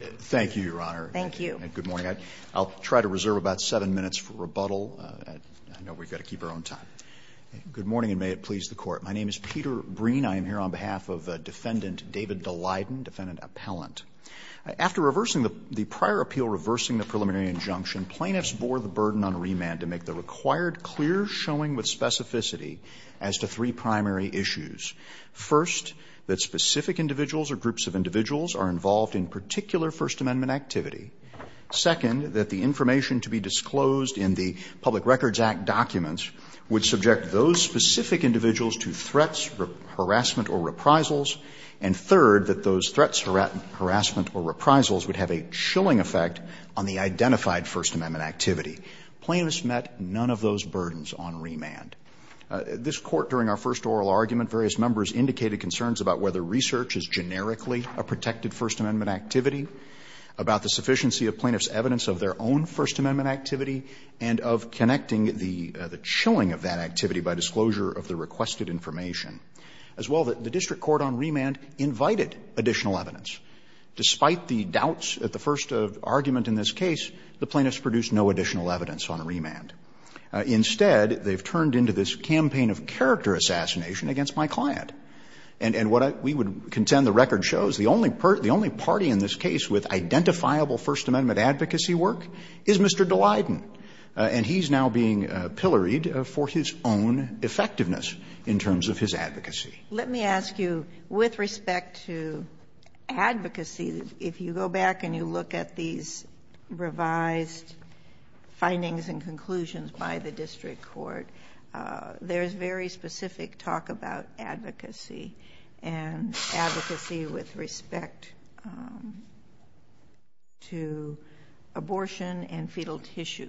Thank you, Your Honor. Thank you. Good morning. I'll try to reserve about seven minutes for rebuttal. I know we've got to keep our own time. Good morning, and may it please the Court. My name is Peter Breen. I am here on behalf of Defendant David Daleiden, Defendant Appellant. After reversing the prior appeal, reversing the preliminary injunction, plaintiffs bore the burden on remand to make the required clear showing with specificity as to three primary issues. First, that specific individuals or groups of individuals are involved in particular First Amendment activity. Second, that the information to be disclosed in the Public Records Act documents would subject those specific individuals to threats, harassment, or reprisals. And third, that those threats, harassment, or reprisals would have a chilling effect on the identified First Amendment activity. Plaintiffs met none of those burdens on remand. This Court, during our first oral argument, various members indicated concerns about whether research is generically a protected First Amendment activity, about the sufficiency of plaintiffs' evidence of their own First Amendment activity, and of connecting the chilling of that activity by disclosure of the requested information. As well, the district court on remand invited additional evidence. Despite the doubts at the first argument in this case, the plaintiffs produced no additional evidence on remand. Instead, they've turned into this campaign of character assassination against my client. And what we would contend the record shows, the only party in this case with identifiable First Amendment advocacy work is Mr. DeLayden. And he's now being pilloried for his own effectiveness in terms of his advocacy. Sotomayor, let me ask you, with respect to advocacy, if you go back and you look at these revised findings and conclusions by the district court, there's very specific talk about advocacy, and advocacy with respect to abortion and fetal tissue.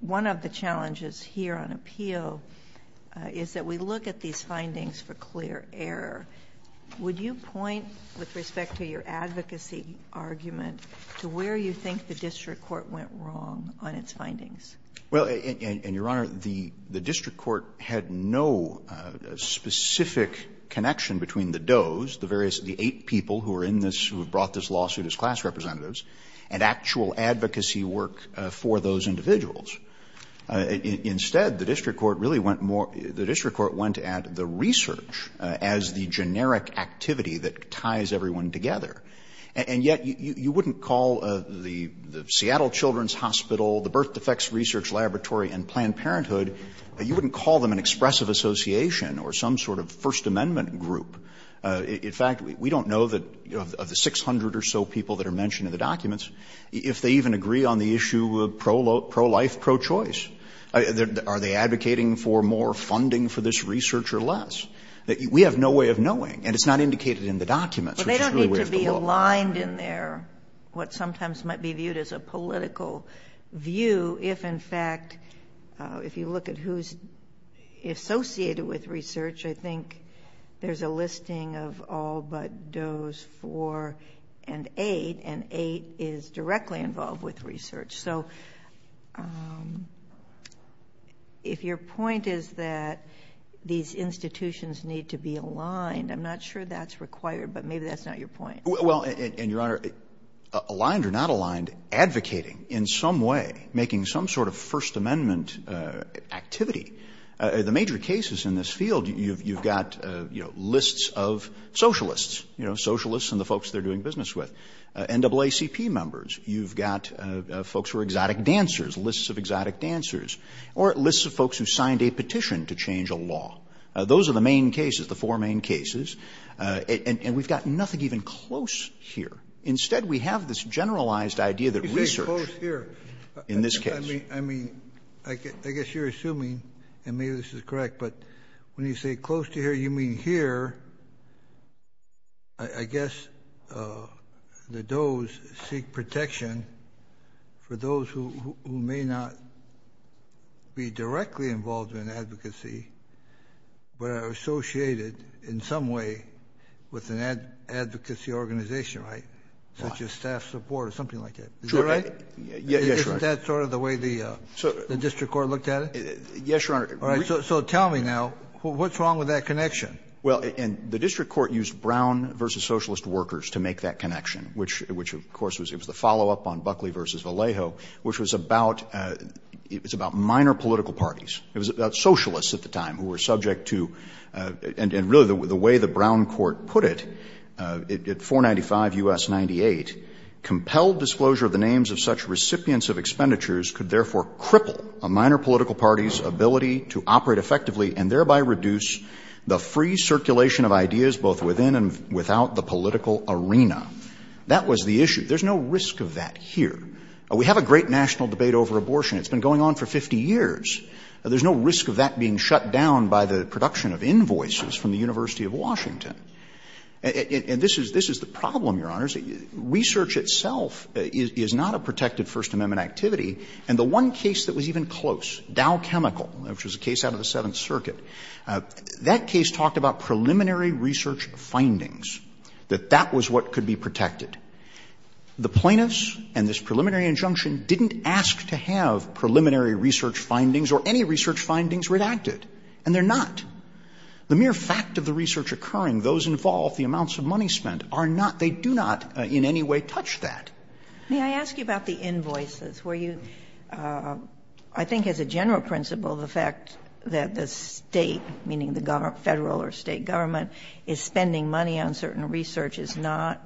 One of the challenges here on appeal is that we look at these findings for clear error. Would you point, with respect to your advocacy argument, to where you think the district court went wrong on its findings? Verrilli, and Your Honor, the district court had no specific connection between the does, the various, the eight people who are in this, who have brought this lawsuit as class representatives, and actual advocacy work for those individuals. Instead, the district court really went more, the district court went at the research as the generic activity that ties everyone together. And yet, you wouldn't call the Seattle Children's Hospital, the Birth Defects Research Laboratory, and Planned Parenthood, you wouldn't call them an expressive association or some sort of First Amendment group. In fact, we don't know that, of the 600 or so people that are mentioned in the documents, if they even agree on the issue of pro-life, pro-choice. Are they advocating for more funding for this research or less? We have no way of knowing, and it's not indicated in the documents. Well, they don't need to be aligned in their, what sometimes might be viewed as a political view, if in fact, if you look at who's associated with research, I think there's a listing of all but does four and eight, and eight is directly involved with research. So if your point is that these institutions need to be aligned, I'm not sure that's required, but maybe that's not your point. Well, and Your Honor, aligned or not aligned, advocating in some way, making some sort of First Amendment activity, the major cases in this field, you've got, you know, lists of socialists, you know, socialists and the folks they're doing business with, NAACP members, you've got folks who are exotic dancers, lists of exotic dancers, or lists of folks who signed a petition to change a law. Those are the main cases, the four main cases, and we've got nothing even close here. Instead, we have this generalized idea that research in this case. I mean, I guess you're assuming, and maybe this is correct, but when you say close to here, you mean here, I guess that those seek protection for those who may not be directly involved in advocacy, but are associated in some way with an advocacy organization, right, such as staff support or something like that. Is that right? Sure. Yes, Your Honor. Isn't that sort of the way the district court looked at it? Yes, Your Honor. All right. So tell me now, what's wrong with that connection? Well, and the district court used Brown v. Socialist Workers to make that connection, which, of course, it was the follow-up on Buckley v. Vallejo, which was about, it was about minor political parties. It was about socialists at the time who were subject to, and really the way the Brown court put it, at 495 U.S. 98, That was the issue. There's no risk of that here. We have a great national debate over abortion. It's been going on for 50 years. There's no risk of that being shut down by the production of invoices from the University of Washington. And this is the problem, Your Honor. Research itself is not a protected First Amendment activity. And the one case that was even close, Dow Chemical, which was a case out of the Seventh Circuit, that case talked about preliminary research findings, that that was what could be protected. The plaintiffs and this preliminary injunction didn't ask to have preliminary research findings or any research findings redacted, and they're not. The mere fact of the research occurring, those involved, the amounts of money spent are not, they do not in any way touch that. May I ask you about the invoices? Were you, I think as a general principle, the fact that the State, meaning the Federal or State government, is spending money on certain research is not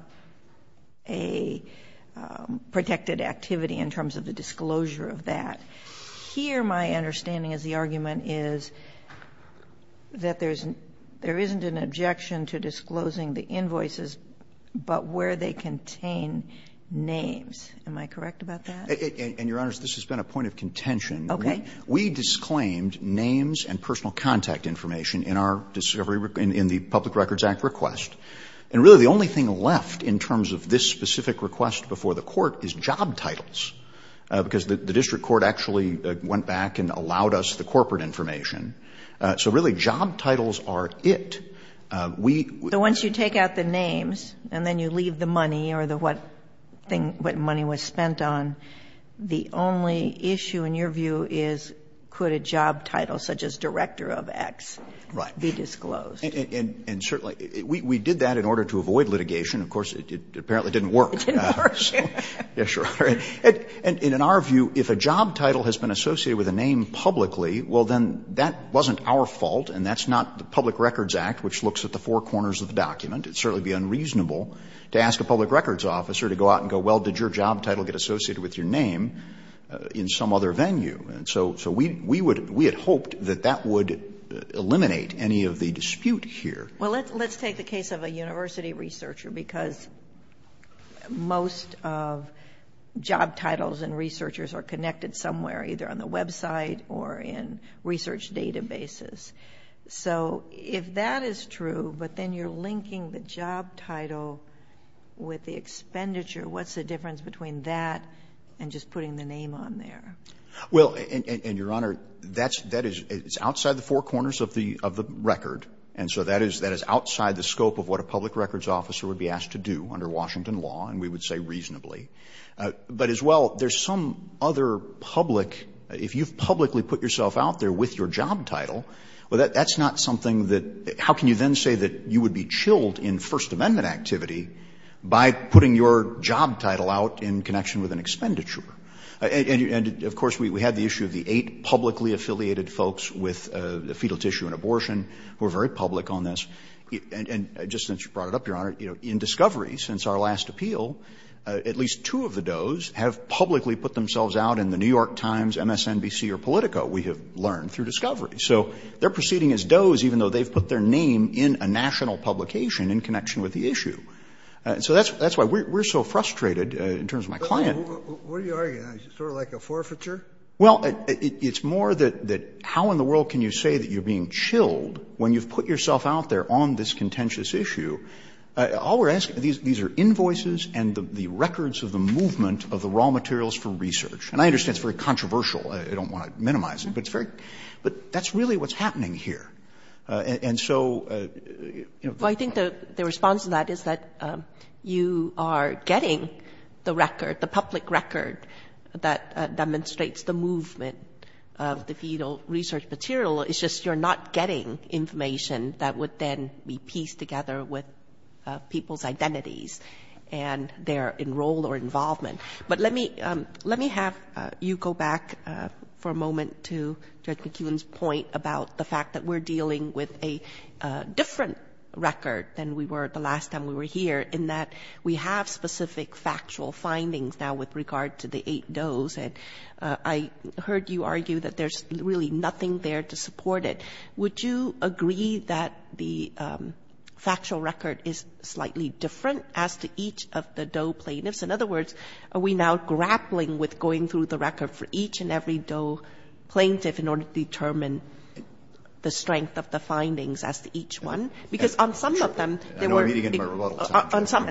a protected activity in terms of the disclosure of that. Here my understanding is the argument is that there's, there isn't an objection to disclosing the invoices, but where they contain names. Am I correct about that? And, Your Honors, this has been a point of contention. Okay. We disclaimed names and personal contact information in our, in the Public Records Act request. And really the only thing left in terms of this specific request before the Court is job titles, because the district court actually went back and allowed us the corporate information. So really job titles are it. We. So once you take out the names and then you leave the money or the what thing, what money was spent on, the only issue in your view is could a job title such as Director of X be disclosed? Right. And certainly, we did that in order to avoid litigation. Of course, it apparently didn't work. It didn't work. Yes, Your Honor. And in our view, if a job title has been associated with a name publicly, well, then that wasn't our fault and that's not the Public Records Act, which looks at the four corners of the document. It'd certainly be unreasonable to ask a public records officer to go out and go, well, did your job title get associated with your name in some other venue? And so, so we, we would, we had hoped that that would eliminate any of the dispute here. Well, let's take the case of a university researcher, because most of job titles and researchers are connected somewhere, either on the website or in research databases. So if that is true, but then you're linking the job title with the expenditure, what's the difference between that and just putting the name on there? Well, and, and, and, Your Honor, that's, that is, it's outside the four corners of the, of the record. And so that is, that is outside the scope of what a public records officer would be asked to do under Washington law, and we would say reasonably. But as well, there's some other public, if you've publicly put yourself out there with your job title, well, that, that's not something that, how can you then say that you would be chilled in First Amendment activity by putting your job title out in connection with an expenditure? And, and, and of course, we, we had the issue of the eight publicly affiliated folks with fetal tissue and abortion who are very public on this. And, and just since you brought it up, Your Honor, you know, in discovery, since our last appeal, at least two of the does have publicly put themselves out in the New York Times, MSNBC, or Politico, we have learned, through discovery. So they're proceeding as does, even though they've put their name in a national publication in connection with the issue. So that's, that's why we're, we're so frustrated in terms of my client. Scalia, what are you arguing? Is it sort of like a forfeiture? Well, it, it's more that, that how in the world can you say that you're being chilled when you've put yourself out there on this contentious issue? All we're asking, these, these are invoices and the, the records of the movement of the raw materials for research. And I understand it's very controversial. I don't want to minimize it. But it's very, but that's really what's happening here. And, and so, you know, the. Well, I think the, the response to that is that you are getting the record, the public record that demonstrates the movement of the fetal research material. It's just, you're not getting information that would then be pieced together with people's identities and their enroll or involvement. But let me, let me have you go back for a moment to Judge McKeown's point about the fact that we're dealing with a different record than we were the last time we were here, in that we have specific factual findings now with regard to the eight does. And I heard you argue that there's really nothing there to support the eight doses that are being supported. Would you agree that the factual record is slightly different as to each of the DOE plaintiffs? In other words, are we now grappling with going through the record for each and every DOE plaintiff in order to determine the strength of the findings as to each one? Because on some of them. I know I'm eating into my rebuttal.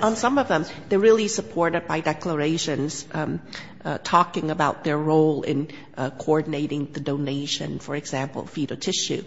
On some of them. They're really supported by declarations talking about their role in coordinating the donation, for example, fetal tissue.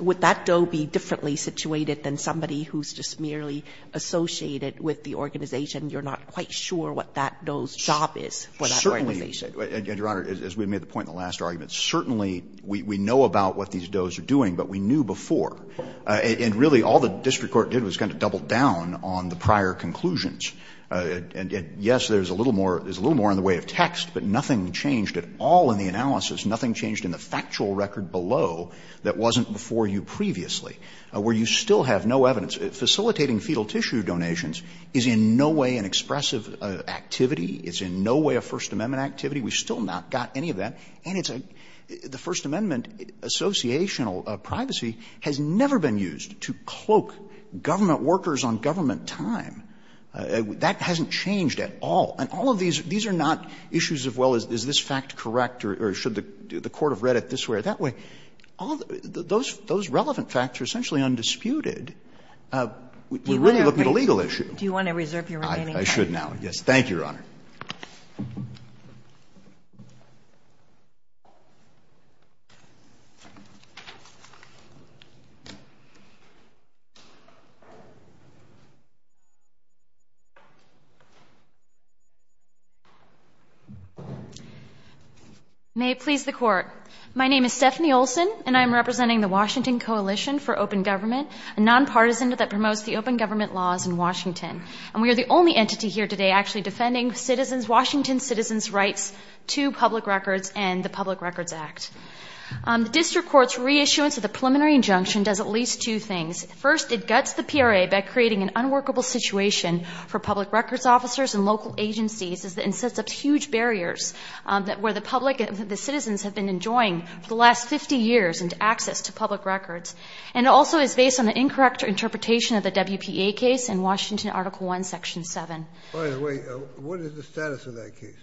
Would that DOE be differently situated than somebody who's just merely associated with the organization? You're not quite sure what that DOE's job is for that organization. Verrilli, Your Honor, as we made the point in the last argument, certainly we know about what these DOEs are doing, but we knew before. And really all the district court did was kind of double down on the prior conclusions. And yes, there's a little more, there's a little more in the way of text, but nothing changed at all in the analysis. Nothing changed in the factual record below that wasn't before you previously, where you still have no evidence. Facilitating fetal tissue donations is in no way an expressive activity. It's in no way a First Amendment activity. We've still not got any of that. And it's a the First Amendment associational privacy has never been used to cloak government workers on government time. That hasn't changed at all. And all of these, these are not issues of, well, is this fact correct or should the court have read it this way or that way? Those relevant facts are essentially undisputed. We're really looking at a legal issue. Do you want to reserve your remaining time? Thank you, Your Honor. May it please the Court. My name is Stephanie Olson, and I'm representing the Washington Coalition for Open Government, a nonpartisan that promotes the open government laws in Washington, and we are the only entity here today actually defending citizens, Washington's citizens' rights to public records and the Public Records Act. The district court's reissuance of the preliminary injunction does at least two things. First, it guts the PRA by creating an unworkable situation for public records officers and local agencies and sets up huge barriers where the public, the citizens have been enjoying for the last 50 years and access to public records. And it also is based on an incorrect interpretation of the WPA case in Washington Article 1, Section 7. By the way, what is the status of that case?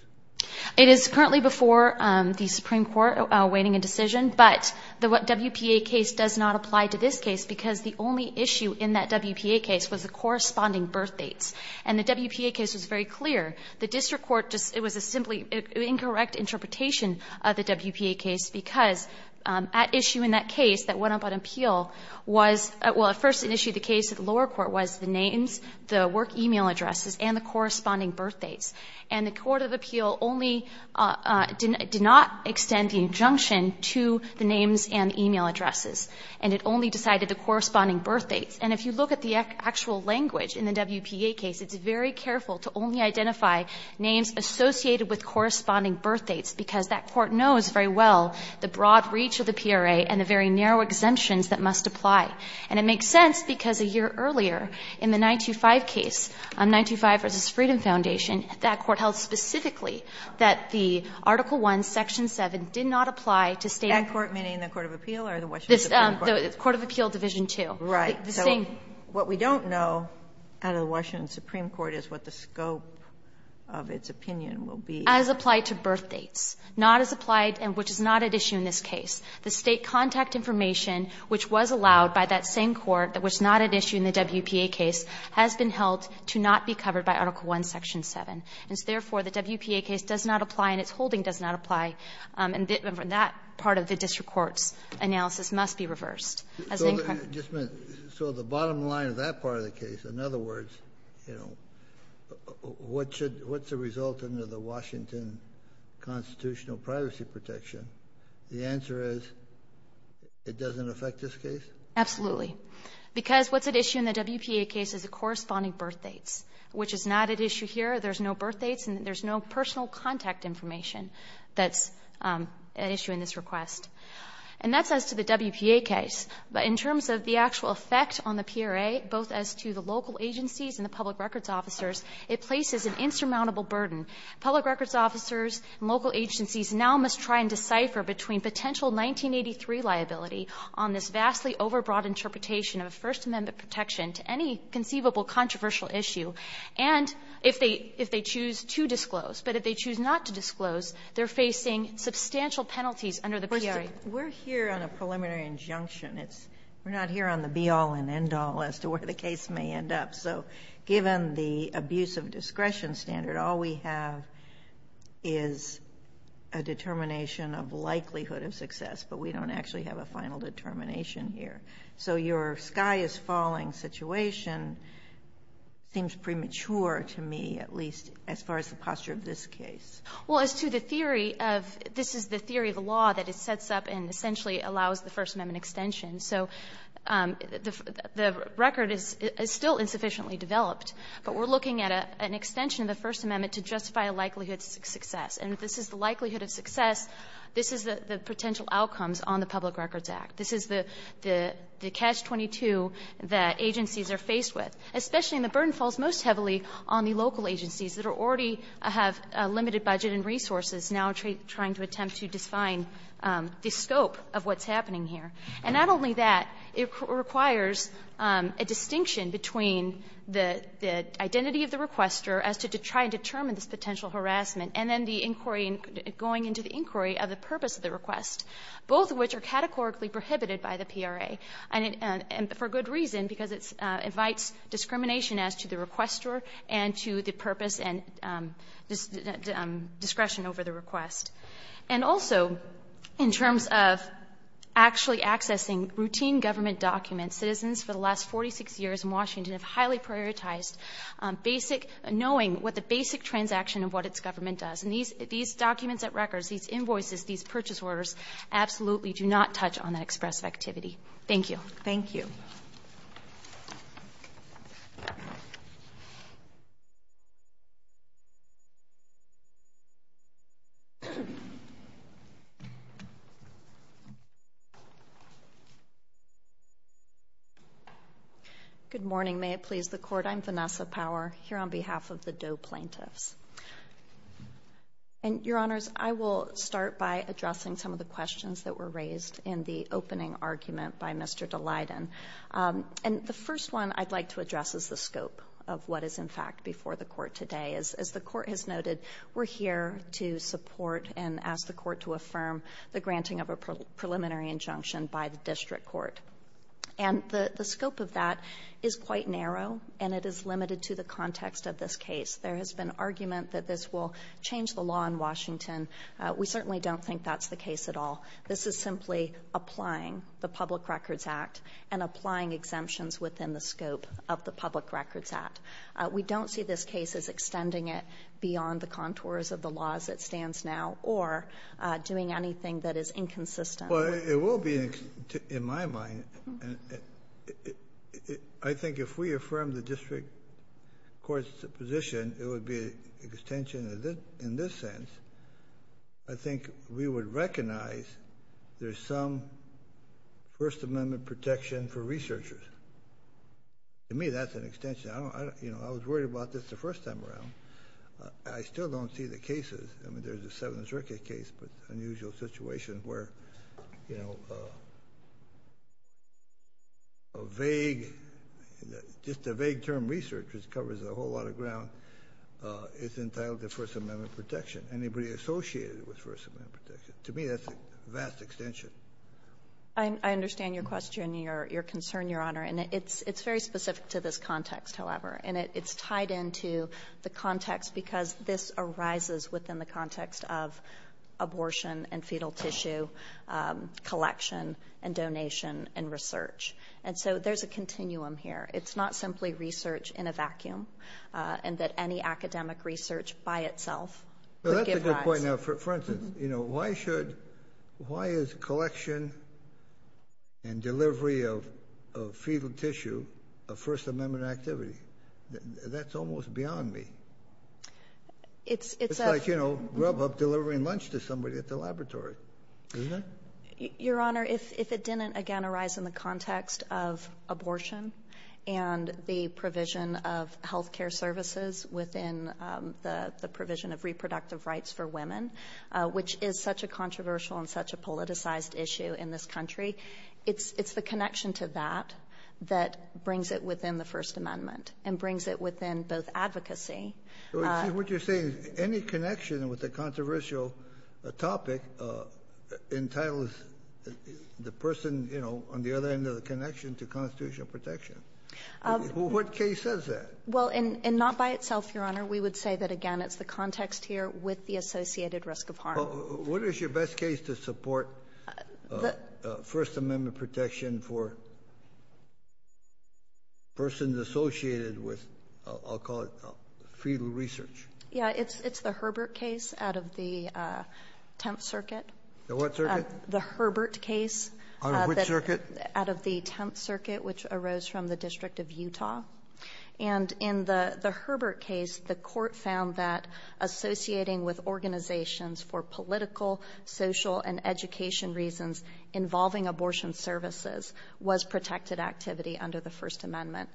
It is currently before the Supreme Court awaiting a decision, but the WPA case does not apply to this case because the only issue in that WPA case was the corresponding birth dates, and the WPA case was very clear. The district court just, it was a simply incorrect interpretation of the WPA case because at issue in that case that went up on appeal was, well, at first in issue of the case, the lower court was the names, the work e-mail addresses, and the corresponding birth dates. And the court of appeal only did not extend the injunction to the names and e-mail addresses, and it only decided the corresponding birth dates. And if you look at the actual language in the WPA case, it's very careful to only identify names associated with corresponding birth dates because that court knows very well the broad reach of the PRA and the very narrow exemptions that must apply. And it makes sense because a year earlier in the 925 case, 925 v. Freedom Foundation, that court held specifically that the Article I, Section 7, did not apply to state of the court. Sotomayor, meaning the court of appeal or the Washington Supreme Court? The court of appeal, Division II. Right. So what we don't know out of the Washington Supreme Court is what the scope of its opinion will be. As applied to birth dates, not as applied, which is not at issue in this case. The state contact information, which was allowed by that same court, which is not at issue in the WPA case, has been held to not be covered by Article I, Section 7. And so, therefore, the WPA case does not apply and its holding does not apply. And that part of the district court's analysis must be reversed. So the bottom line of that part of the case, in other words, you know, what's the result under the Washington constitutional privacy protection? The answer is it doesn't affect this case? Absolutely. Because what's at issue in the WPA case is the corresponding birth dates, which is not at issue here. There's no birth dates and there's no personal contact information that's at issue in this request. And that's as to the WPA case. But in terms of the actual effect on the PRA, both as to the local agencies and the public records officers, it places an insurmountable burden. Public records officers and local agencies now must try and decipher between potential 1983 liability on this vastly overbroad interpretation of a First Amendment protection to any conceivable controversial issue, and if they choose to disclose. But if they choose not to disclose, they're facing substantial penalties under the PRA. We're here on a preliminary injunction. We're not here on the be-all and end-all as to where the case may end up. So, given the abuse of discretion standard, all we have is a determination of likelihood of success, but we don't actually have a final determination here. So your sky-is-falling situation seems premature to me, at least as far as the posture of this case. Well, as to the theory of, this is the theory of the law that it sets up and essentially allows the First Amendment extension. So the record is still insufficiently developed, but we're looking at an extension of the First Amendment to justify a likelihood of success. And if this is the likelihood of success, this is the potential outcomes on the Public Records Act. This is the catch-22 that agencies are faced with, especially when the burden falls most heavily on the local agencies that are already have a limited budget and resources now trying to attempt to define the scope of what's happening here. And not only that, it requires a distinction between the identity of the requester as to try and determine this potential harassment and then the inquiry, going into the inquiry of the purpose of the request, both of which are categorically prohibited by the PRA, and for good reason, because it invites discrimination as to the requester and to the purpose and discretion over the request. And also, in terms of actually accessing routine government documents, citizens for the last 46 years in Washington have highly prioritized basic, knowing what the basic transaction of what its government does. And these documents at records, these invoices, these purchase orders absolutely do not touch on that expressive activity. Thank you. Thank you. Good morning. May it please the Court. I'm Vanessa Power here on behalf of the Doe Plaintiffs. And, Your Honors, I will start by addressing some of the questions that were raised in the opening argument by Mr. DeLayden. And the first one I'd like to address is the scope of what is, in fact, before the Court today. As the Court has noted, we're here to support and ask the Court to affirm the granting of a preliminary injunction by the District Court. And the scope of that is quite narrow, and it is limited to the context of this case. There has been argument that this will change the law in Washington. We certainly don't think that's the case at all. This is simply applying the Public Records Act and applying exemptions within the scope of the Public Records Act. We don't see this case as extending it beyond the contours of the law as it stands now or doing anything that is inconsistent. Well, it will be, in my mind. I think if we affirm the District Court's position, it would be an extension in this sense. I think we would recognize there's some First Amendment protection for researchers. To me, that's an extension. I don't, you know, I was worried about this the first time around. I still don't see the cases. I mean, there's a Seventh Circuit case, but unusual situation where, you know, a vague, it's entitled the First Amendment protection. Anybody associated with First Amendment protection. To me, that's a vast extension. I understand your question, your concern, Your Honor. And it's very specific to this context, however. And it's tied into the context because this arises within the context of abortion and fetal tissue collection and donation and research. And so there's a continuum here. It's not simply research in a vacuum and that any academic research by itself. That's a good point. Now, for instance, you know, why should, why is collection and delivery of fetal tissue a First Amendment activity? That's almost beyond me. It's like, you know, grub up delivering lunch to somebody at the laboratory. Isn't it? Your Honor, if it didn't, again, arise in the context of abortion and the provision of health care services within the provision of reproductive rights for women, which is such a controversial and such a politicized issue in this country, it's the connection to that that brings it within the First Amendment and brings it within both advocacy. What you're saying is any connection with the controversial topic entitles the person, you know, on the other end of the connection to constitutional protection. What case says that? Well, and not by itself, Your Honor. We would say that, again, it's the context here with the associated risk of harm. What is your best case to support First Amendment protection for persons associated with, I'll call it, fetal research? Yeah, it's the Herbert case out of the Tenth Circuit. The what circuit? The Herbert case. Out of which circuit? Out of the Tenth Circuit, which arose from the District of Utah. And in the Herbert case, the court found that associating with organizations for political, social, and education reasons involving abortion services was protected activity under the First Amendment.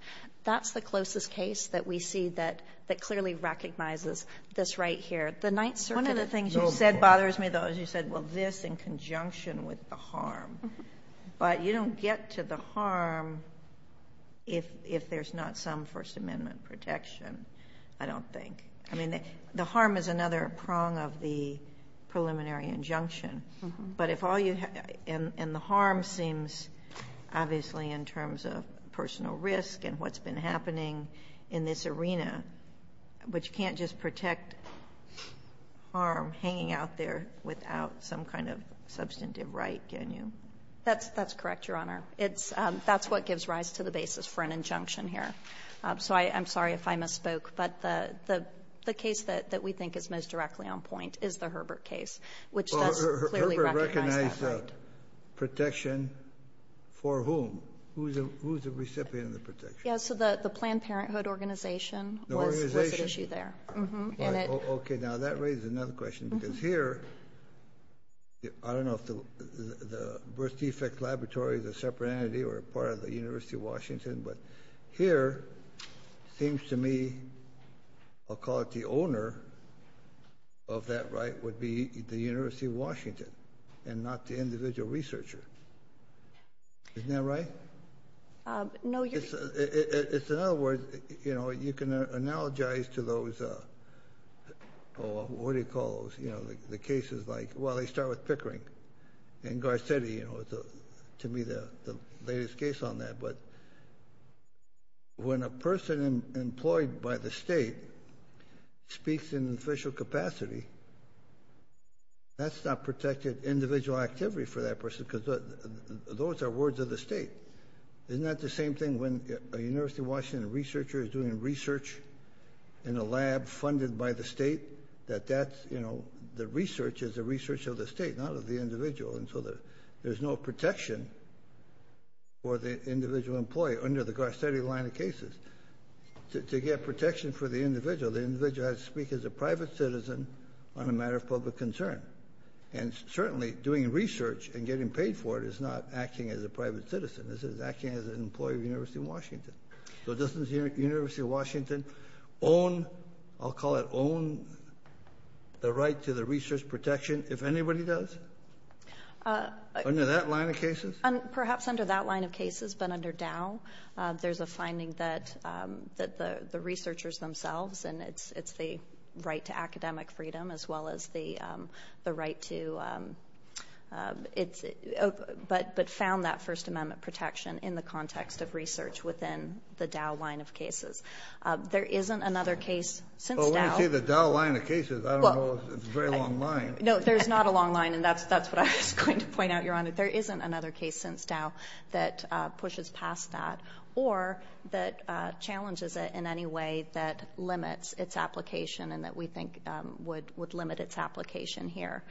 That's the closest case that we see that clearly recognizes this right here. The Ninth Circuit... One of the things you said bothers me, though, is you said, well, this in conjunction with the harm. But you don't get to the harm if there's not some First Amendment protection, I don't think. I mean, the harm is another prong of the preliminary injunction. But if all you... And the harm seems, obviously, in terms of personal risk and what's been happening in this arena, but you can't just protect harm hanging out there without some kind of substantive right, can you? That's correct, Your Honor. That's what gives rise to the basis for an injunction here. So I'm sorry if I misspoke. But the case that we think is most directly on point is the Herbert case, which does clearly recognize that right. Well, Herbert recognized protection for whom? Who's the recipient of the protection? Yeah, so the Planned Parenthood Organization was at issue there. The organization? Mm-hmm, and it... Okay, now that raises another question. Because here, I don't know if the birth defect laboratory is a separate entity or a part of the University of Washington. But here, it seems to me, I'll call it the owner of that right would be the University of Washington and not the individual researcher. Isn't that right? No, Your Honor... It's another word. You can analogize to those, what do you call those, the cases like, well, they start with Pickering and Garcetti. To me, the latest case on that. But when a person employed by the state speaks in official capacity, that's not protected individual activity for that person. Because those are words of the state. Isn't that the same thing when a University of Washington researcher is doing research in a lab funded by the state? That the research is the research of the state, not of the individual. And so there's no protection for the individual employee under the Garcetti line of cases. To get protection for the individual, the individual has to speak as a private citizen on a matter of public concern. And certainly, doing research and getting paid for it is not acting as a private citizen. It's acting as an employee of the University of Washington. So doesn't the University of Washington own, I'll call it own, the right to the research protection if anybody does? Under that line of cases? Perhaps under that line of cases. But under Dow, there's a finding that the researchers themselves, and it's the right to academic freedom as well as the right to, but found that First Amendment protection in the context of research within the Dow line of cases. There isn't another case since Dow. Well, let me see the Dow line of cases. I don't know. It's a very long line. No, there's not a long line, and that's what I was going to point out, Your Honor. There isn't another case since Dow that pushes past that or that challenges it in any way that limits its application and that we think would limit its application here.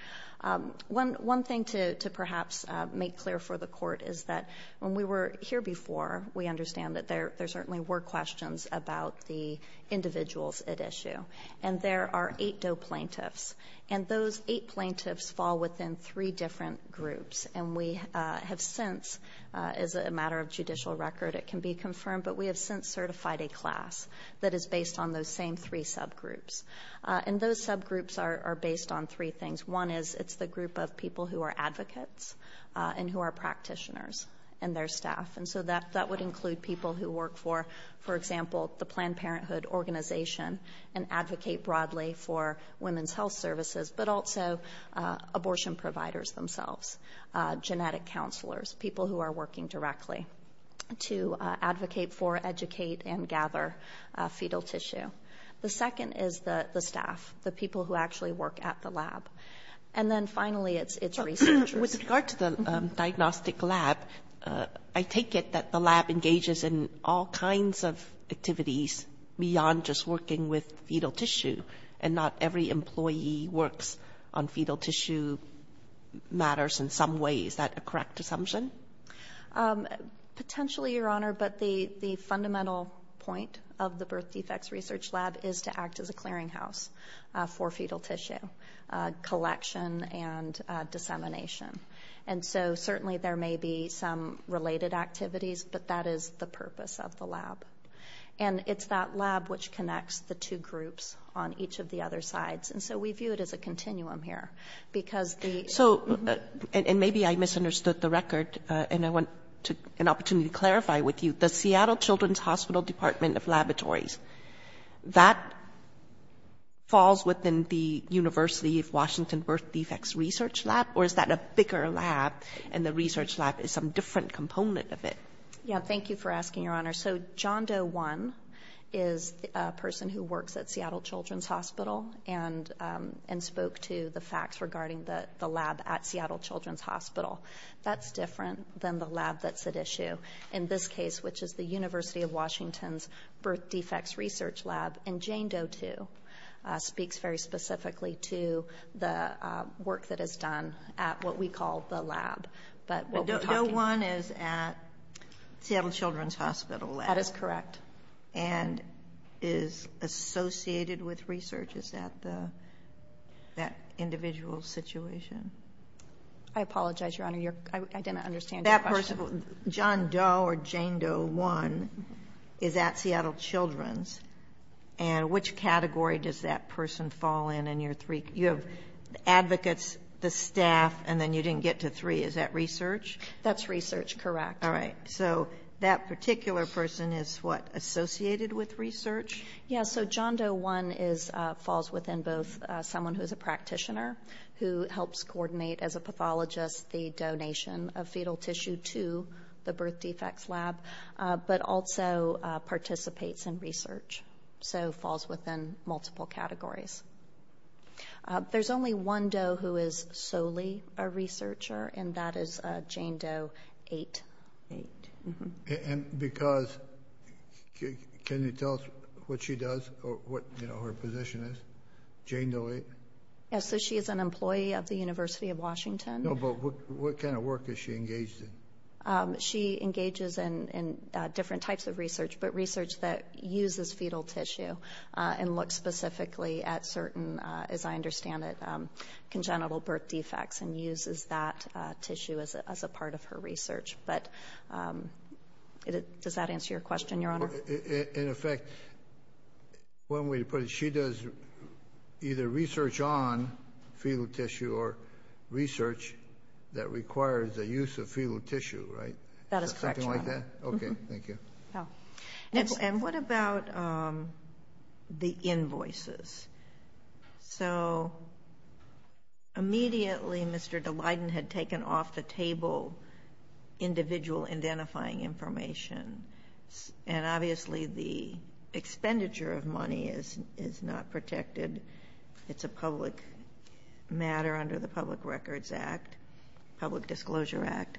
One thing to perhaps make clear for the Court is that when we were here before, we understand that there certainly were questions about the individuals at issue. And there are eight Doe plaintiffs. And those eight plaintiffs fall within three different groups. And we have since, as a matter of judicial record, it can be confirmed, but we have since certified a class that is based on those same three subgroups. And those subgroups are based on three things. One is it's the group of people who are advocates and who are practitioners and their staff. And so that would include people who work for, for example, the Planned Parenthood organization and advocate broadly for women's health services, but also abortion providers themselves, genetic counselors, people who are working directly to advocate for, educate, and gather fetal tissue. The second is the staff, the people who actually work at the lab. And then finally, it's researchers. With regard to the diagnostic lab, I take it that the lab engages in all kinds of research beyond just working with fetal tissue, and not every employee works on fetal tissue matters in some way. Is that a correct assumption? Um, potentially, Your Honor, but the, the fundamental point of the birth defects research lab is to act as a clearinghouse for fetal tissue collection and dissemination. And so certainly there may be some related activities, but that is the purpose of the lab. Which connects the two groups on each of the other sides. And so we view it as a continuum here, because the... So, and maybe I misunderstood the record, and I want to, an opportunity to clarify with you. The Seattle Children's Hospital Department of Laboratories, that falls within the University of Washington birth defects research lab? Or is that a bigger lab, and the research lab is some different component of it? Yeah, thank you for asking, Your Honor. So John Doe One is a person who works at Seattle Children's Hospital, and, and spoke to the facts regarding the, the lab at Seattle Children's Hospital. That's different than the lab that's at issue. In this case, which is the University of Washington's birth defects research lab, and Jane Doe Two speaks very specifically to the work that is done at what we call the lab. But we'll be talking... But Doe One is at Seattle Children's Hospital lab. That is correct. And is associated with research. Is that the, that individual's situation? I apologize, Your Honor. You're, I didn't understand your question. That person, John Doe or Jane Doe One is at Seattle Children's, and which category does that person fall in, in your three? You have advocates, the staff, and then you didn't get to three. Is that research? That's research, correct. All right. So that particular person is what, associated with research? Yeah, so John Doe One is, falls within both someone who's a practitioner, who helps coordinate as a pathologist, the donation of fetal tissue to the birth defects lab, but also participates in research. So falls within multiple categories. There's only one Doe who is solely a researcher, and that is Jane Doe Eight. Eight. And because, can you tell us what she does, or what, you know, her position is? Jane Doe Eight? Yeah, so she is an employee of the University of Washington. No, but what kind of work is she engaged in? She engages in, in different types of research, but research that uses fetal tissue, and looks specifically at certain, as I understand it, congenital birth defects, and uses that tissue as a part of her research. But, does that answer your question, Your Honor? In effect, one way to put it, she does either research on fetal tissue, or research that requires the use of fetal tissue, right? That is correct, Your Honor. Okay, thank you. And what about the invoices? So, immediately, Mr. Dalyden had taken off the table individual identifying information, and obviously the expenditure of money is not protected. It's a public matter under the Public Records Act, Public Disclosure Act.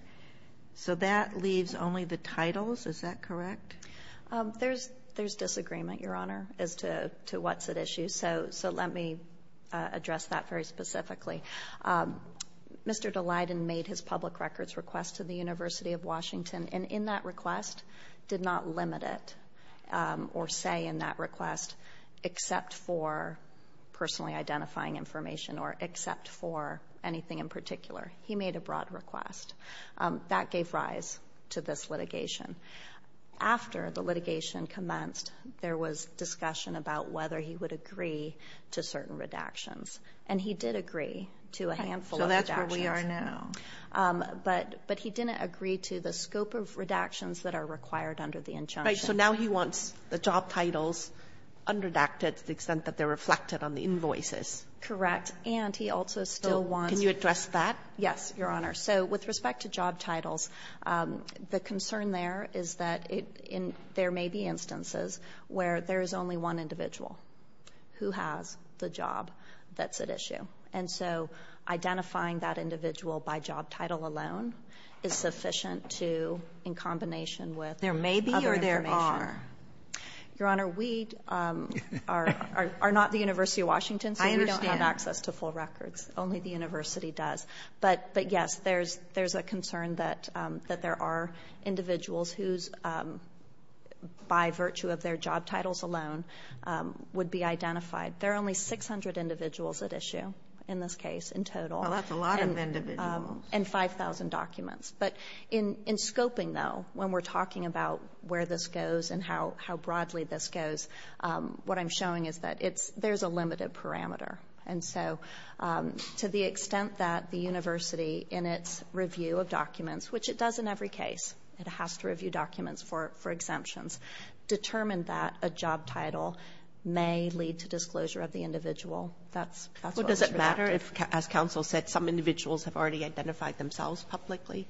So that leaves only the titles, is that correct? There's disagreement, Your Honor, as to what's at issue, so let me address that very specifically. Mr. Dalyden made his public records request to the University of Washington, and in that request, did not limit it, or say in that request, except for personally identifying information, or except for anything in particular. He made a broad request. That gave rise to this litigation. After the litigation commenced, there was discussion about whether he would agree to certain redactions, and he did agree to a handful of redactions. So that's where we are now. But he didn't agree to the scope of redactions that are required under the injunction. Right, so now he wants the job titles underdacted to the extent that they're reflected on the invoices. Correct, and he also still wants... Can you address that? Yes, Your Honor. So with respect to job titles, the concern there is that there may be instances where there is only one individual who has the job that's at issue, and so identifying that individual by job title alone is sufficient to, in combination with... There may be, or there are? Your Honor, we are not the University of Washington, so we don't have access to full But yes, there's a concern that there are individuals who, by virtue of their job titles alone, would be identified. There are only 600 individuals at issue in this case, in total. Well, that's a lot of individuals. And 5,000 documents. But in scoping, though, when we're talking about where this goes and how broadly this goes, what I'm showing is that there's a limited parameter. And so, to the extent that the university, in its review of documents, which it does in every case, it has to review documents for exemptions, determined that a job title may lead to disclosure of the individual. That's what... Does it matter if, as counsel said, some individuals have already identified themselves publicly?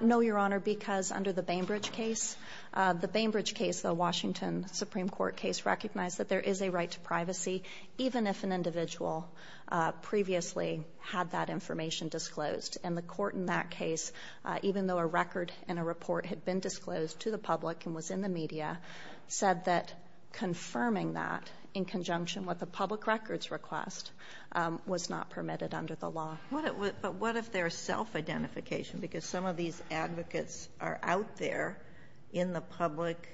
No, Your Honor, because under the Bainbridge case, the Bainbridge case, the Washington Supreme Court case recognized that there is a right to privacy, even if an individual previously had that information disclosed. And the court in that case, even though a record and a report had been disclosed to the public and was in the media, said that confirming that, in conjunction with a public records request, was not permitted under the law. But what if there's self-identification? Because some of these advocates are out there in the public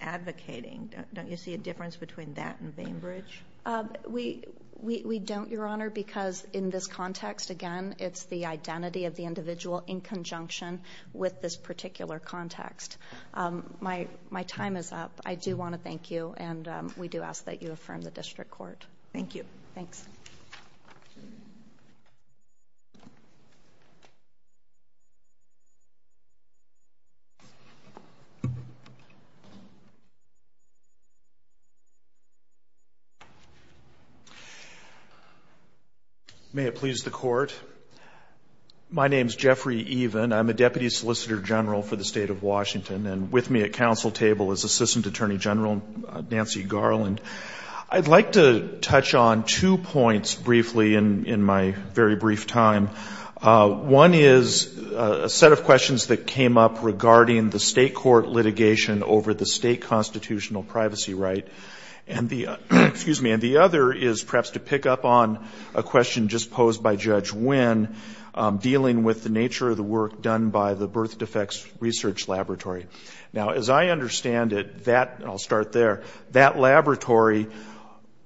advocating. Don't you see a difference between that and Bainbridge? We don't, Your Honor, because in this context, again, it's the identity of the individual in conjunction with this particular context. My time is up. I do want to thank you, and we do ask that you affirm the district court. Thank you. Thanks. May it please the Court. My name is Jeffrey Even. I'm a Deputy Solicitor General for the State of Washington, and with me at council table is Assistant Attorney General Nancy Garland. I'd like to touch on two points briefly in my very brief time. One is a set of questions that came up regarding the state court litigation over the state constitutional privacy right, and the other is perhaps to pick up on a question just posed by Judge Wynn, dealing with the nature of the work done by the Birth Defects Research Laboratory. Now, as I understand it, that, and I'll start there, that laboratory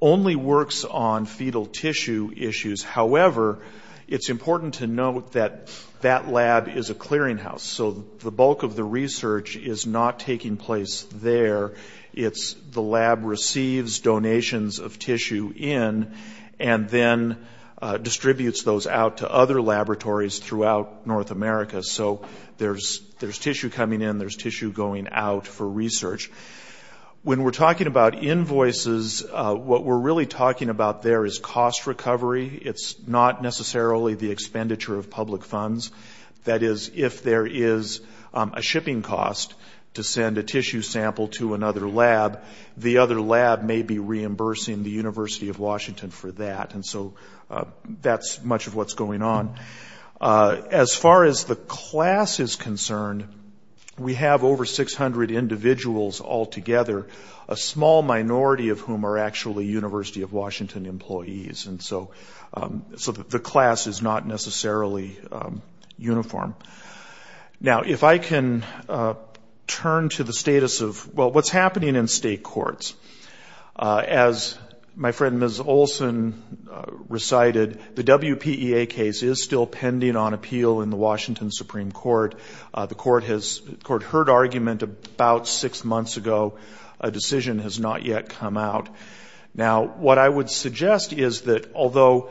only works on fetal tissue issues. However, it's important to note that that lab is a clearinghouse, so the bulk of the research is not taking place there. It's the lab receives donations of tissue in and then distributes those out to other laboratories throughout North America, so there's tissue coming in, there's tissue going out for research. When we're talking about invoices, what we're really talking about there is cost recovery. It's not necessarily the expenditure of public funds. That is, if there is a shipping cost to send a tissue sample to another lab, the other lab may be reimbursing the University of Washington for that, and so that's much of what's going on. As far as the class is concerned, we have over 600 individuals altogether, a small minority of whom are actually University of Washington employees. And so the class is not necessarily uniform. Now, if I can turn to the status of, well, what's happening in state courts. As my friend Ms. Olson recited, the WPEA case is still pending on appeal in the Washington Supreme Court. The court heard argument about six months ago. A decision has not yet come out. Now, what I would suggest is that although,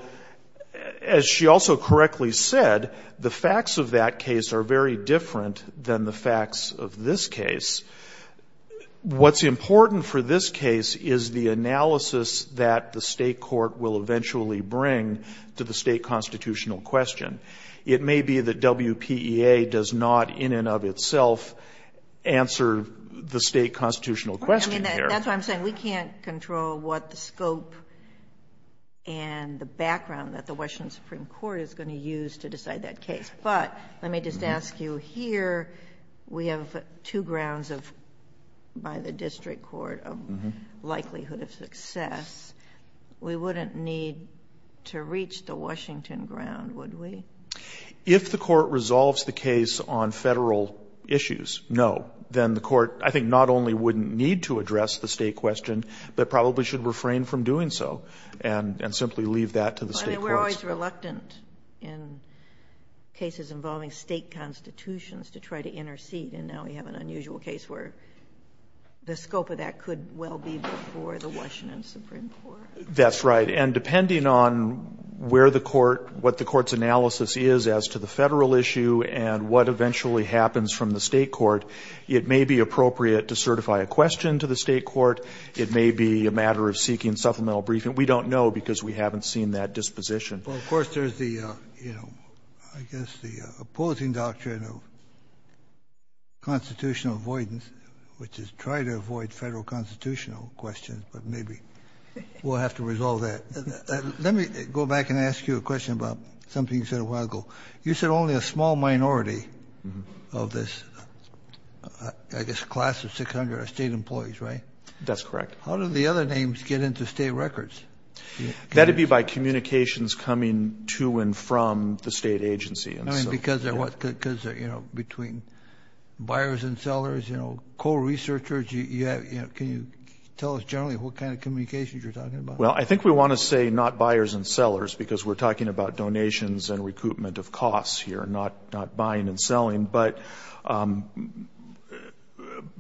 as she also correctly said, the facts of that case are very different than the facts of this case. What's important for this case is the analysis that the state court will eventually bring to the state constitutional question. It may be that WPEA does not, in and of itself, answer the state constitutional question here. That's what I'm saying. We can't control what the scope and the background that the Washington Supreme Court is going to use to decide that case. But let me just ask you here, we have two grounds by the district court of likelihood of success. We wouldn't need to reach the Washington ground, would we? If the court resolves the case on federal issues, no. Then the court, I think, not only wouldn't need to address the state question, but probably should refrain from doing so and simply leave that to the state courts. And we're always reluctant in cases involving state constitutions to try to intercede. And now we have an unusual case where the scope of that could well be before the Washington Supreme Court. That's right. And depending on where the court, what the court's analysis is as to the federal issue and what eventually happens from the state court, it may be appropriate to certify a question to the state court. It may be a matter of seeking supplemental briefing. We don't know because we haven't seen that disposition. Well, of course, there's the, you know, I guess the opposing doctrine of constitutional avoidance, which is try to avoid Federal constitutional questions. But maybe we'll have to resolve that. Let me go back and ask you a question about something you said a while ago. You said only a small minority of this, I guess, class of 600 are state employees, right? That's correct. How do the other names get into state records? That'd be by communications coming to and from the state agency. I mean, because they're, you know, between buyers and sellers, you know, co-researchers, can you tell us generally what kind of communications you're talking about? Well, I think we want to say not buyers and sellers because we're talking about donations and recoupment of costs here, not buying and selling. But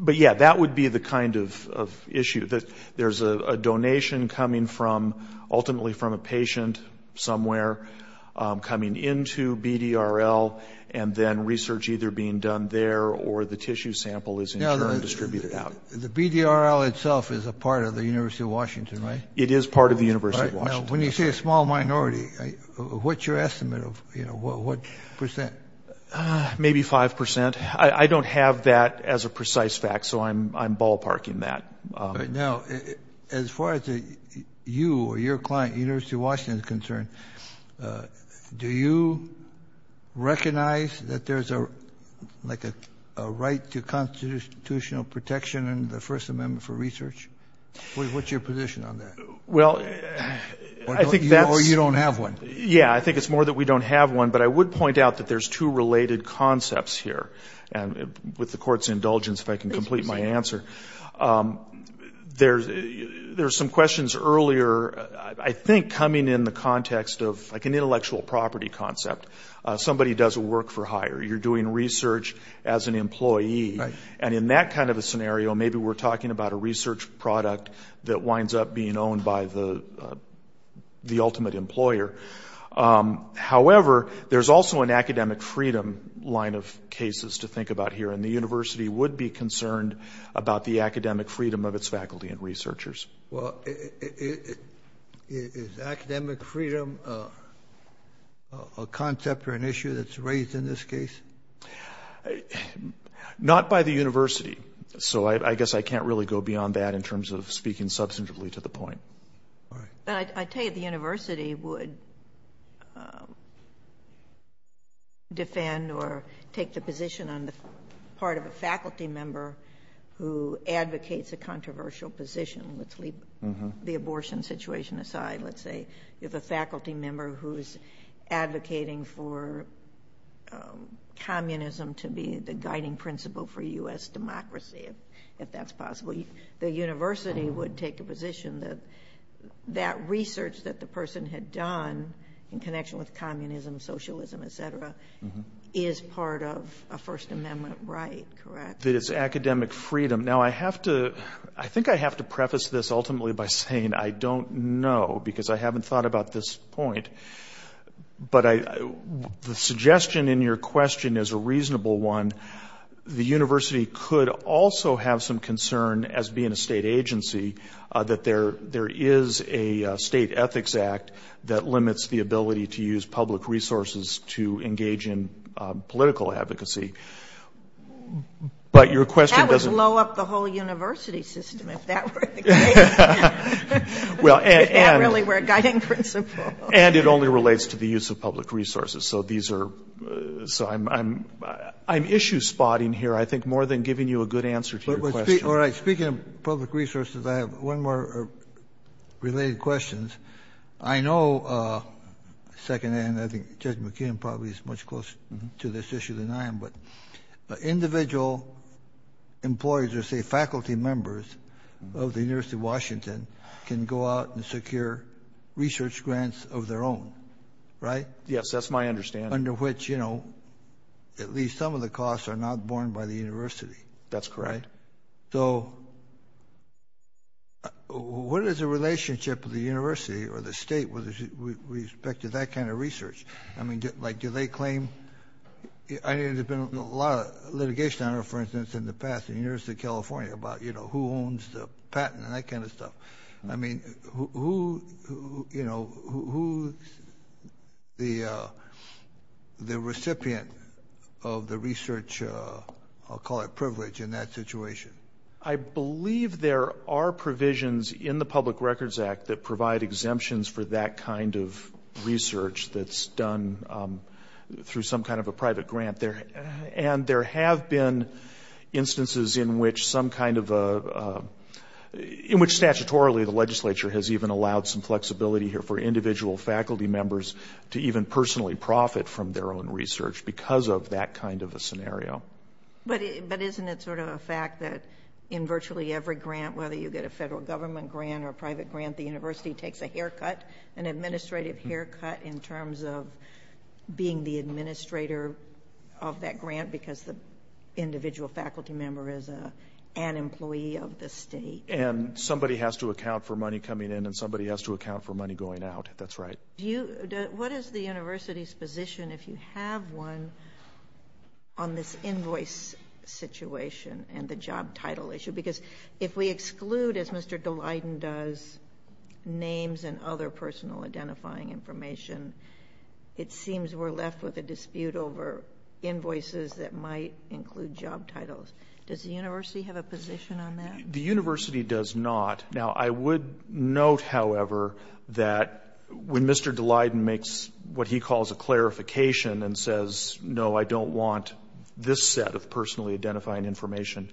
yeah, that would be the kind of issue that there's a donation coming from ultimately from a patient somewhere coming into BDRL and then research either being done there or the tissue sample is distributed out. The BDRL itself is a part of the University of Washington, right? It is part of the University of Washington. When you say a small minority, what's your estimate of, you know, what percent? Maybe 5%. I don't have that as a precise fact, so I'm ballparking that. Now, as far as you or your client, University of Washington is concerned, do you recognize that there's a right to constitutional protection and the First Amendment for research? What's your position on that? Well, I think that's... Or you don't have one. Yeah, I think it's more that we don't have one. But I would point out that there's two related concepts here. And with the court's indulgence, if I can complete my answer, there's some questions earlier, I think, coming in the context of like an intellectual property concept. Somebody does a work for hire. You're doing research as an employee. And in that kind of a scenario, maybe we're talking about a research product that winds up being owned by the ultimate employer. However, there's also an academic freedom line of cases to think about here. And the university would be concerned about the academic freedom of its faculty and researchers. Well, is academic freedom a concept or an issue that's raised in this case? Not by the university. So I guess I can't really go beyond that in terms of speaking substantively to the point. But I tell you, the university would defend or take the position on the part of a faculty member who advocates a controversial position. Let's leave the abortion situation aside. Let's say you have a faculty member who's advocating for if that's possible, the university would take a position that that research that the person had done in connection with communism, socialism, et cetera, is part of a First Amendment right, correct? That it's academic freedom. Now, I think I have to preface this ultimately by saying I don't know because I haven't thought about this point. But the suggestion in your question is a reasonable one. The university could also have some concern as being a state agency that there is a state ethics act that limits the ability to use public resources to engage in political advocacy. But your question doesn't- That would blow up the whole university system if that were the case. If that really were a guiding principle. And it only relates to the use of public resources. So these are- So I'm issue spotting here, I think, more than giving you a good answer to your question. All right. Speaking of public resources, I have one more related questions. I know, secondhand, I think Judge McKeon probably is much closer to this issue than I am. But individual employees or say faculty members of the University of Washington can go out and secure research grants of their own, right? Yes, that's my understanding. Under which, you know, at least some of the costs are not borne by the university. That's correct. So what is the relationship of the university or the state with respect to that kind of research? I mean, like, do they claim- I know there's been a lot of litigation on it, for instance, in the past, in the University of California about, you know, who owns the patent and that kind of stuff. I mean, who, you know, who's the recipient of the research? I'll call it privilege in that situation. I believe there are provisions in the Public Records Act that provide exemptions for that kind of research that's done through some kind of a private grant there. And there have been instances in which some kind of a- in which statutorily the legislature has even allowed some flexibility here for individual faculty members to even personally profit from their own research because of that kind of a scenario. But isn't it sort of a fact that in virtually every grant, whether you get a federal government grant or a private grant, the university takes a haircut, an administrative haircut, in terms of being the administrator of that grant because the individual faculty member is an employee of the state? And somebody has to account for money coming in and somebody has to account for money going out. That's right. Do you- what is the university's position if you have one on this invoice situation and the job title issue? Because if we exclude, as Mr. Dalyden does, names and other personal identifying information, it seems we're left with a dispute over invoices that might include job titles. Does the university have a position on that? The university does not. Now, I would note, however, that when Mr. Dalyden makes what he calls a clarification and says, no, I don't want this set of personally identifying information,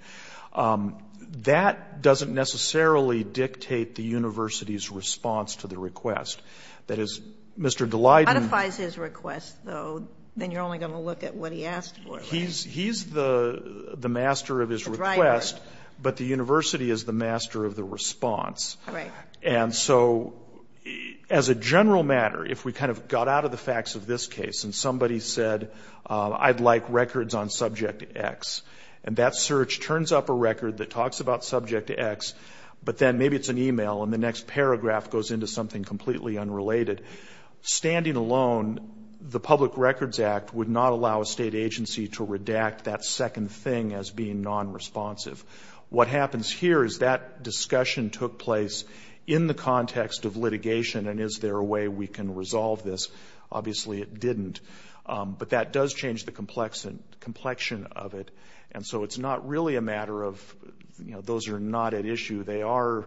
that doesn't necessarily dictate the university's response to the request. That is, Mr. Dalyden- Modifies his request, though, then you're only going to look at what he asked for, right? He's the master of his request, but the university is the master of the response. Right. And so, as a general matter, if we kind of got out of the facts of this case and somebody said, I'd like records on subject X, and that search turns up a record that talks about subject X, but then maybe it's an email and the next paragraph goes into something completely unrelated, standing alone, the Public Records Act would not allow a state agency to redact that second thing as being non-responsive. What happens here is that discussion took place in the context of litigation, and is there a way we can resolve this? Obviously, it didn't. But that does change the complexion of it. And so, it's not really a matter of, you know, those are not at issue. They are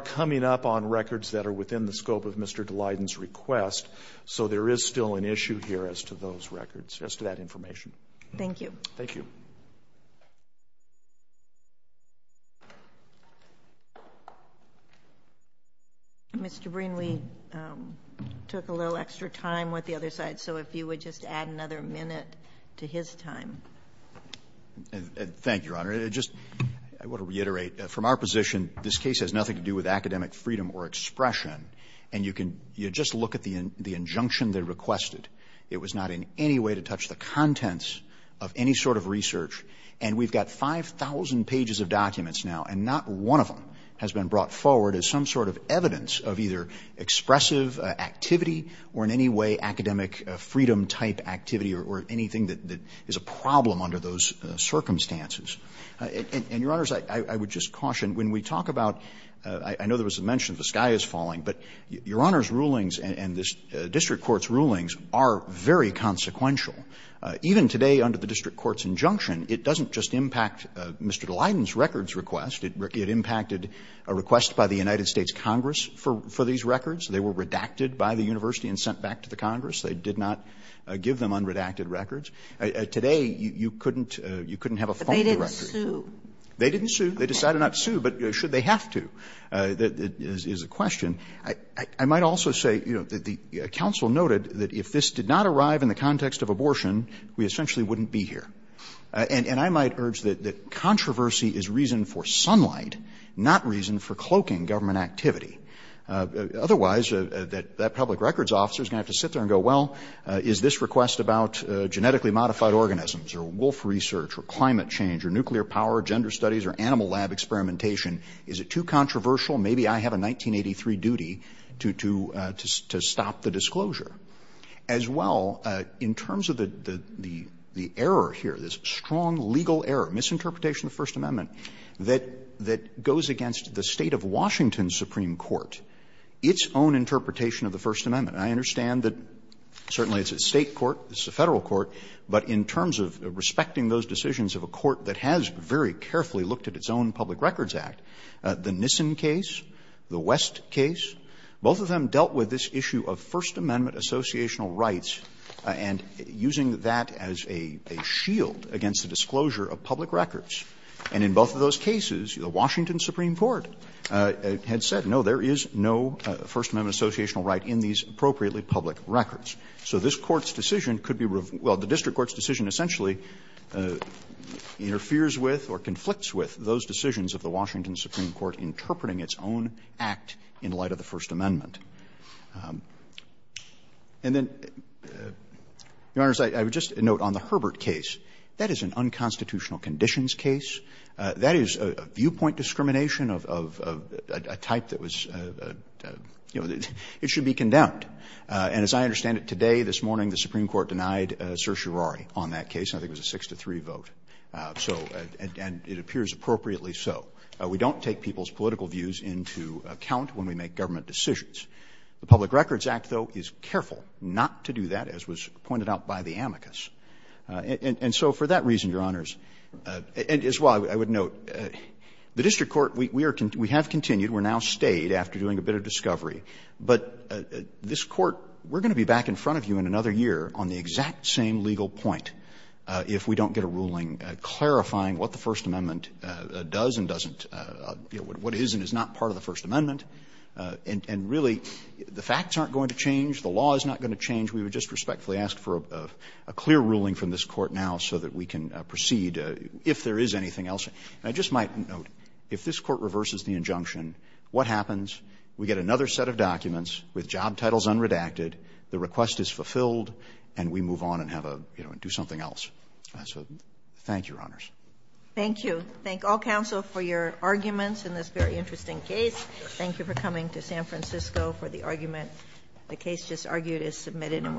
coming up on records that are within the scope of Mr. Dalyden's request. So, there is still an issue here as to those records, as to that information. Thank you. Thank you. Mr. Breen, we took a little extra time with the other side. So, if you would just add another minute to his time. Thank you, Your Honor. Just, I want to reiterate, from our position, this case has nothing to do with academic freedom or expression. And you can just look at the injunction they requested. It was not in any way to touch the contents of any sort of research. And we've got 5,000 pages of documents now, and not one of them has been brought forward as some sort of evidence of either expressive activity or in any way academic freedom-type activity or anything that is a problem under those circumstances. And, Your Honors, I would just caution, when we talk about, I know there was a mention of the sky is falling, but Your Honor's rulings and the district court's rulings are very consequential. Even today, under the district court's injunction, it doesn't just impact Mr. Dalyden's records request. It impacted a request by the United States Congress for these records. They were redacted by the university and sent back to the Congress. They did not give them unredacted records. Today, you couldn't have a phone directory. But they didn't sue. They didn't sue. They decided not to sue. But should they have to? That is a question. I might also say, you know, that the counsel noted that if this did not arrive in the context of abortion, we essentially wouldn't be here. And I might urge that controversy is reason for sunlight, not reason for cloaking government activity. Otherwise, that public records officer is going to have to sit there and go, well, is this request about genetically modified organisms or wolf research or climate change or nuclear power, gender studies or animal lab experimentation, is it too controversial? Maybe I have a 1983 duty to stop the disclosure. As well, in terms of the error here, this strong legal error, misinterpretation of the First Amendment, that goes against the State of Washington's Supreme Court, its own interpretation of the First Amendment. And I understand that certainly it's a State court, it's a Federal court, but in terms of respecting those decisions of a court that has very carefully looked at its own public records act, the Nissen case, the West case, both of them dealt with this issue of First Amendment associational rights and using that as a shield against the disclosure of public records. And in both of those cases, the Washington Supreme Court had said, no, there is no First Amendment associational right in these appropriately public records. So this Court's decision could be revealed — well, the district court's decision essentially interferes with or conflicts with those decisions of the Washington Supreme Court interpreting its own act in light of the First Amendment. And then, Your Honors, I would just note on the Herbert case, that is an unconstitutional conditions case. That is a viewpoint discrimination of a type that was, you know, it should be condemned. And as I understand it, today, this morning, the Supreme Court denied certiorari on that case. I think it was a 6-3 vote. So — and it appears appropriately so. We don't take people's political views into account when we make government decisions. The Public Records Act, though, is careful not to do that, as was pointed out by the amicus. And so for that reason, Your Honors, as well, I would note, the district court, we are — we have continued, we have now stayed after doing a bit of discovery, but this Court, we are going to be back in front of you in another year on the exact same legal point if we don't get a ruling clarifying what the First Amendment does and doesn't, what is and is not part of the First Amendment. And really, the facts aren't going to change, the law is not going to change. We would just respectfully ask for a clear ruling from this Court now so that we can proceed, if there is anything else. And I just might note, if this Court reverses the injunction, what happens? We get another set of documents with job titles unredacted, the request is fulfilled, and we move on and have a, you know, do something else. So thank you, Your Honors. Thank you. Thank all counsel for your arguments in this very interesting case. Thank you for coming to San Francisco for the argument. The case just argued is submitted and we're adjourned.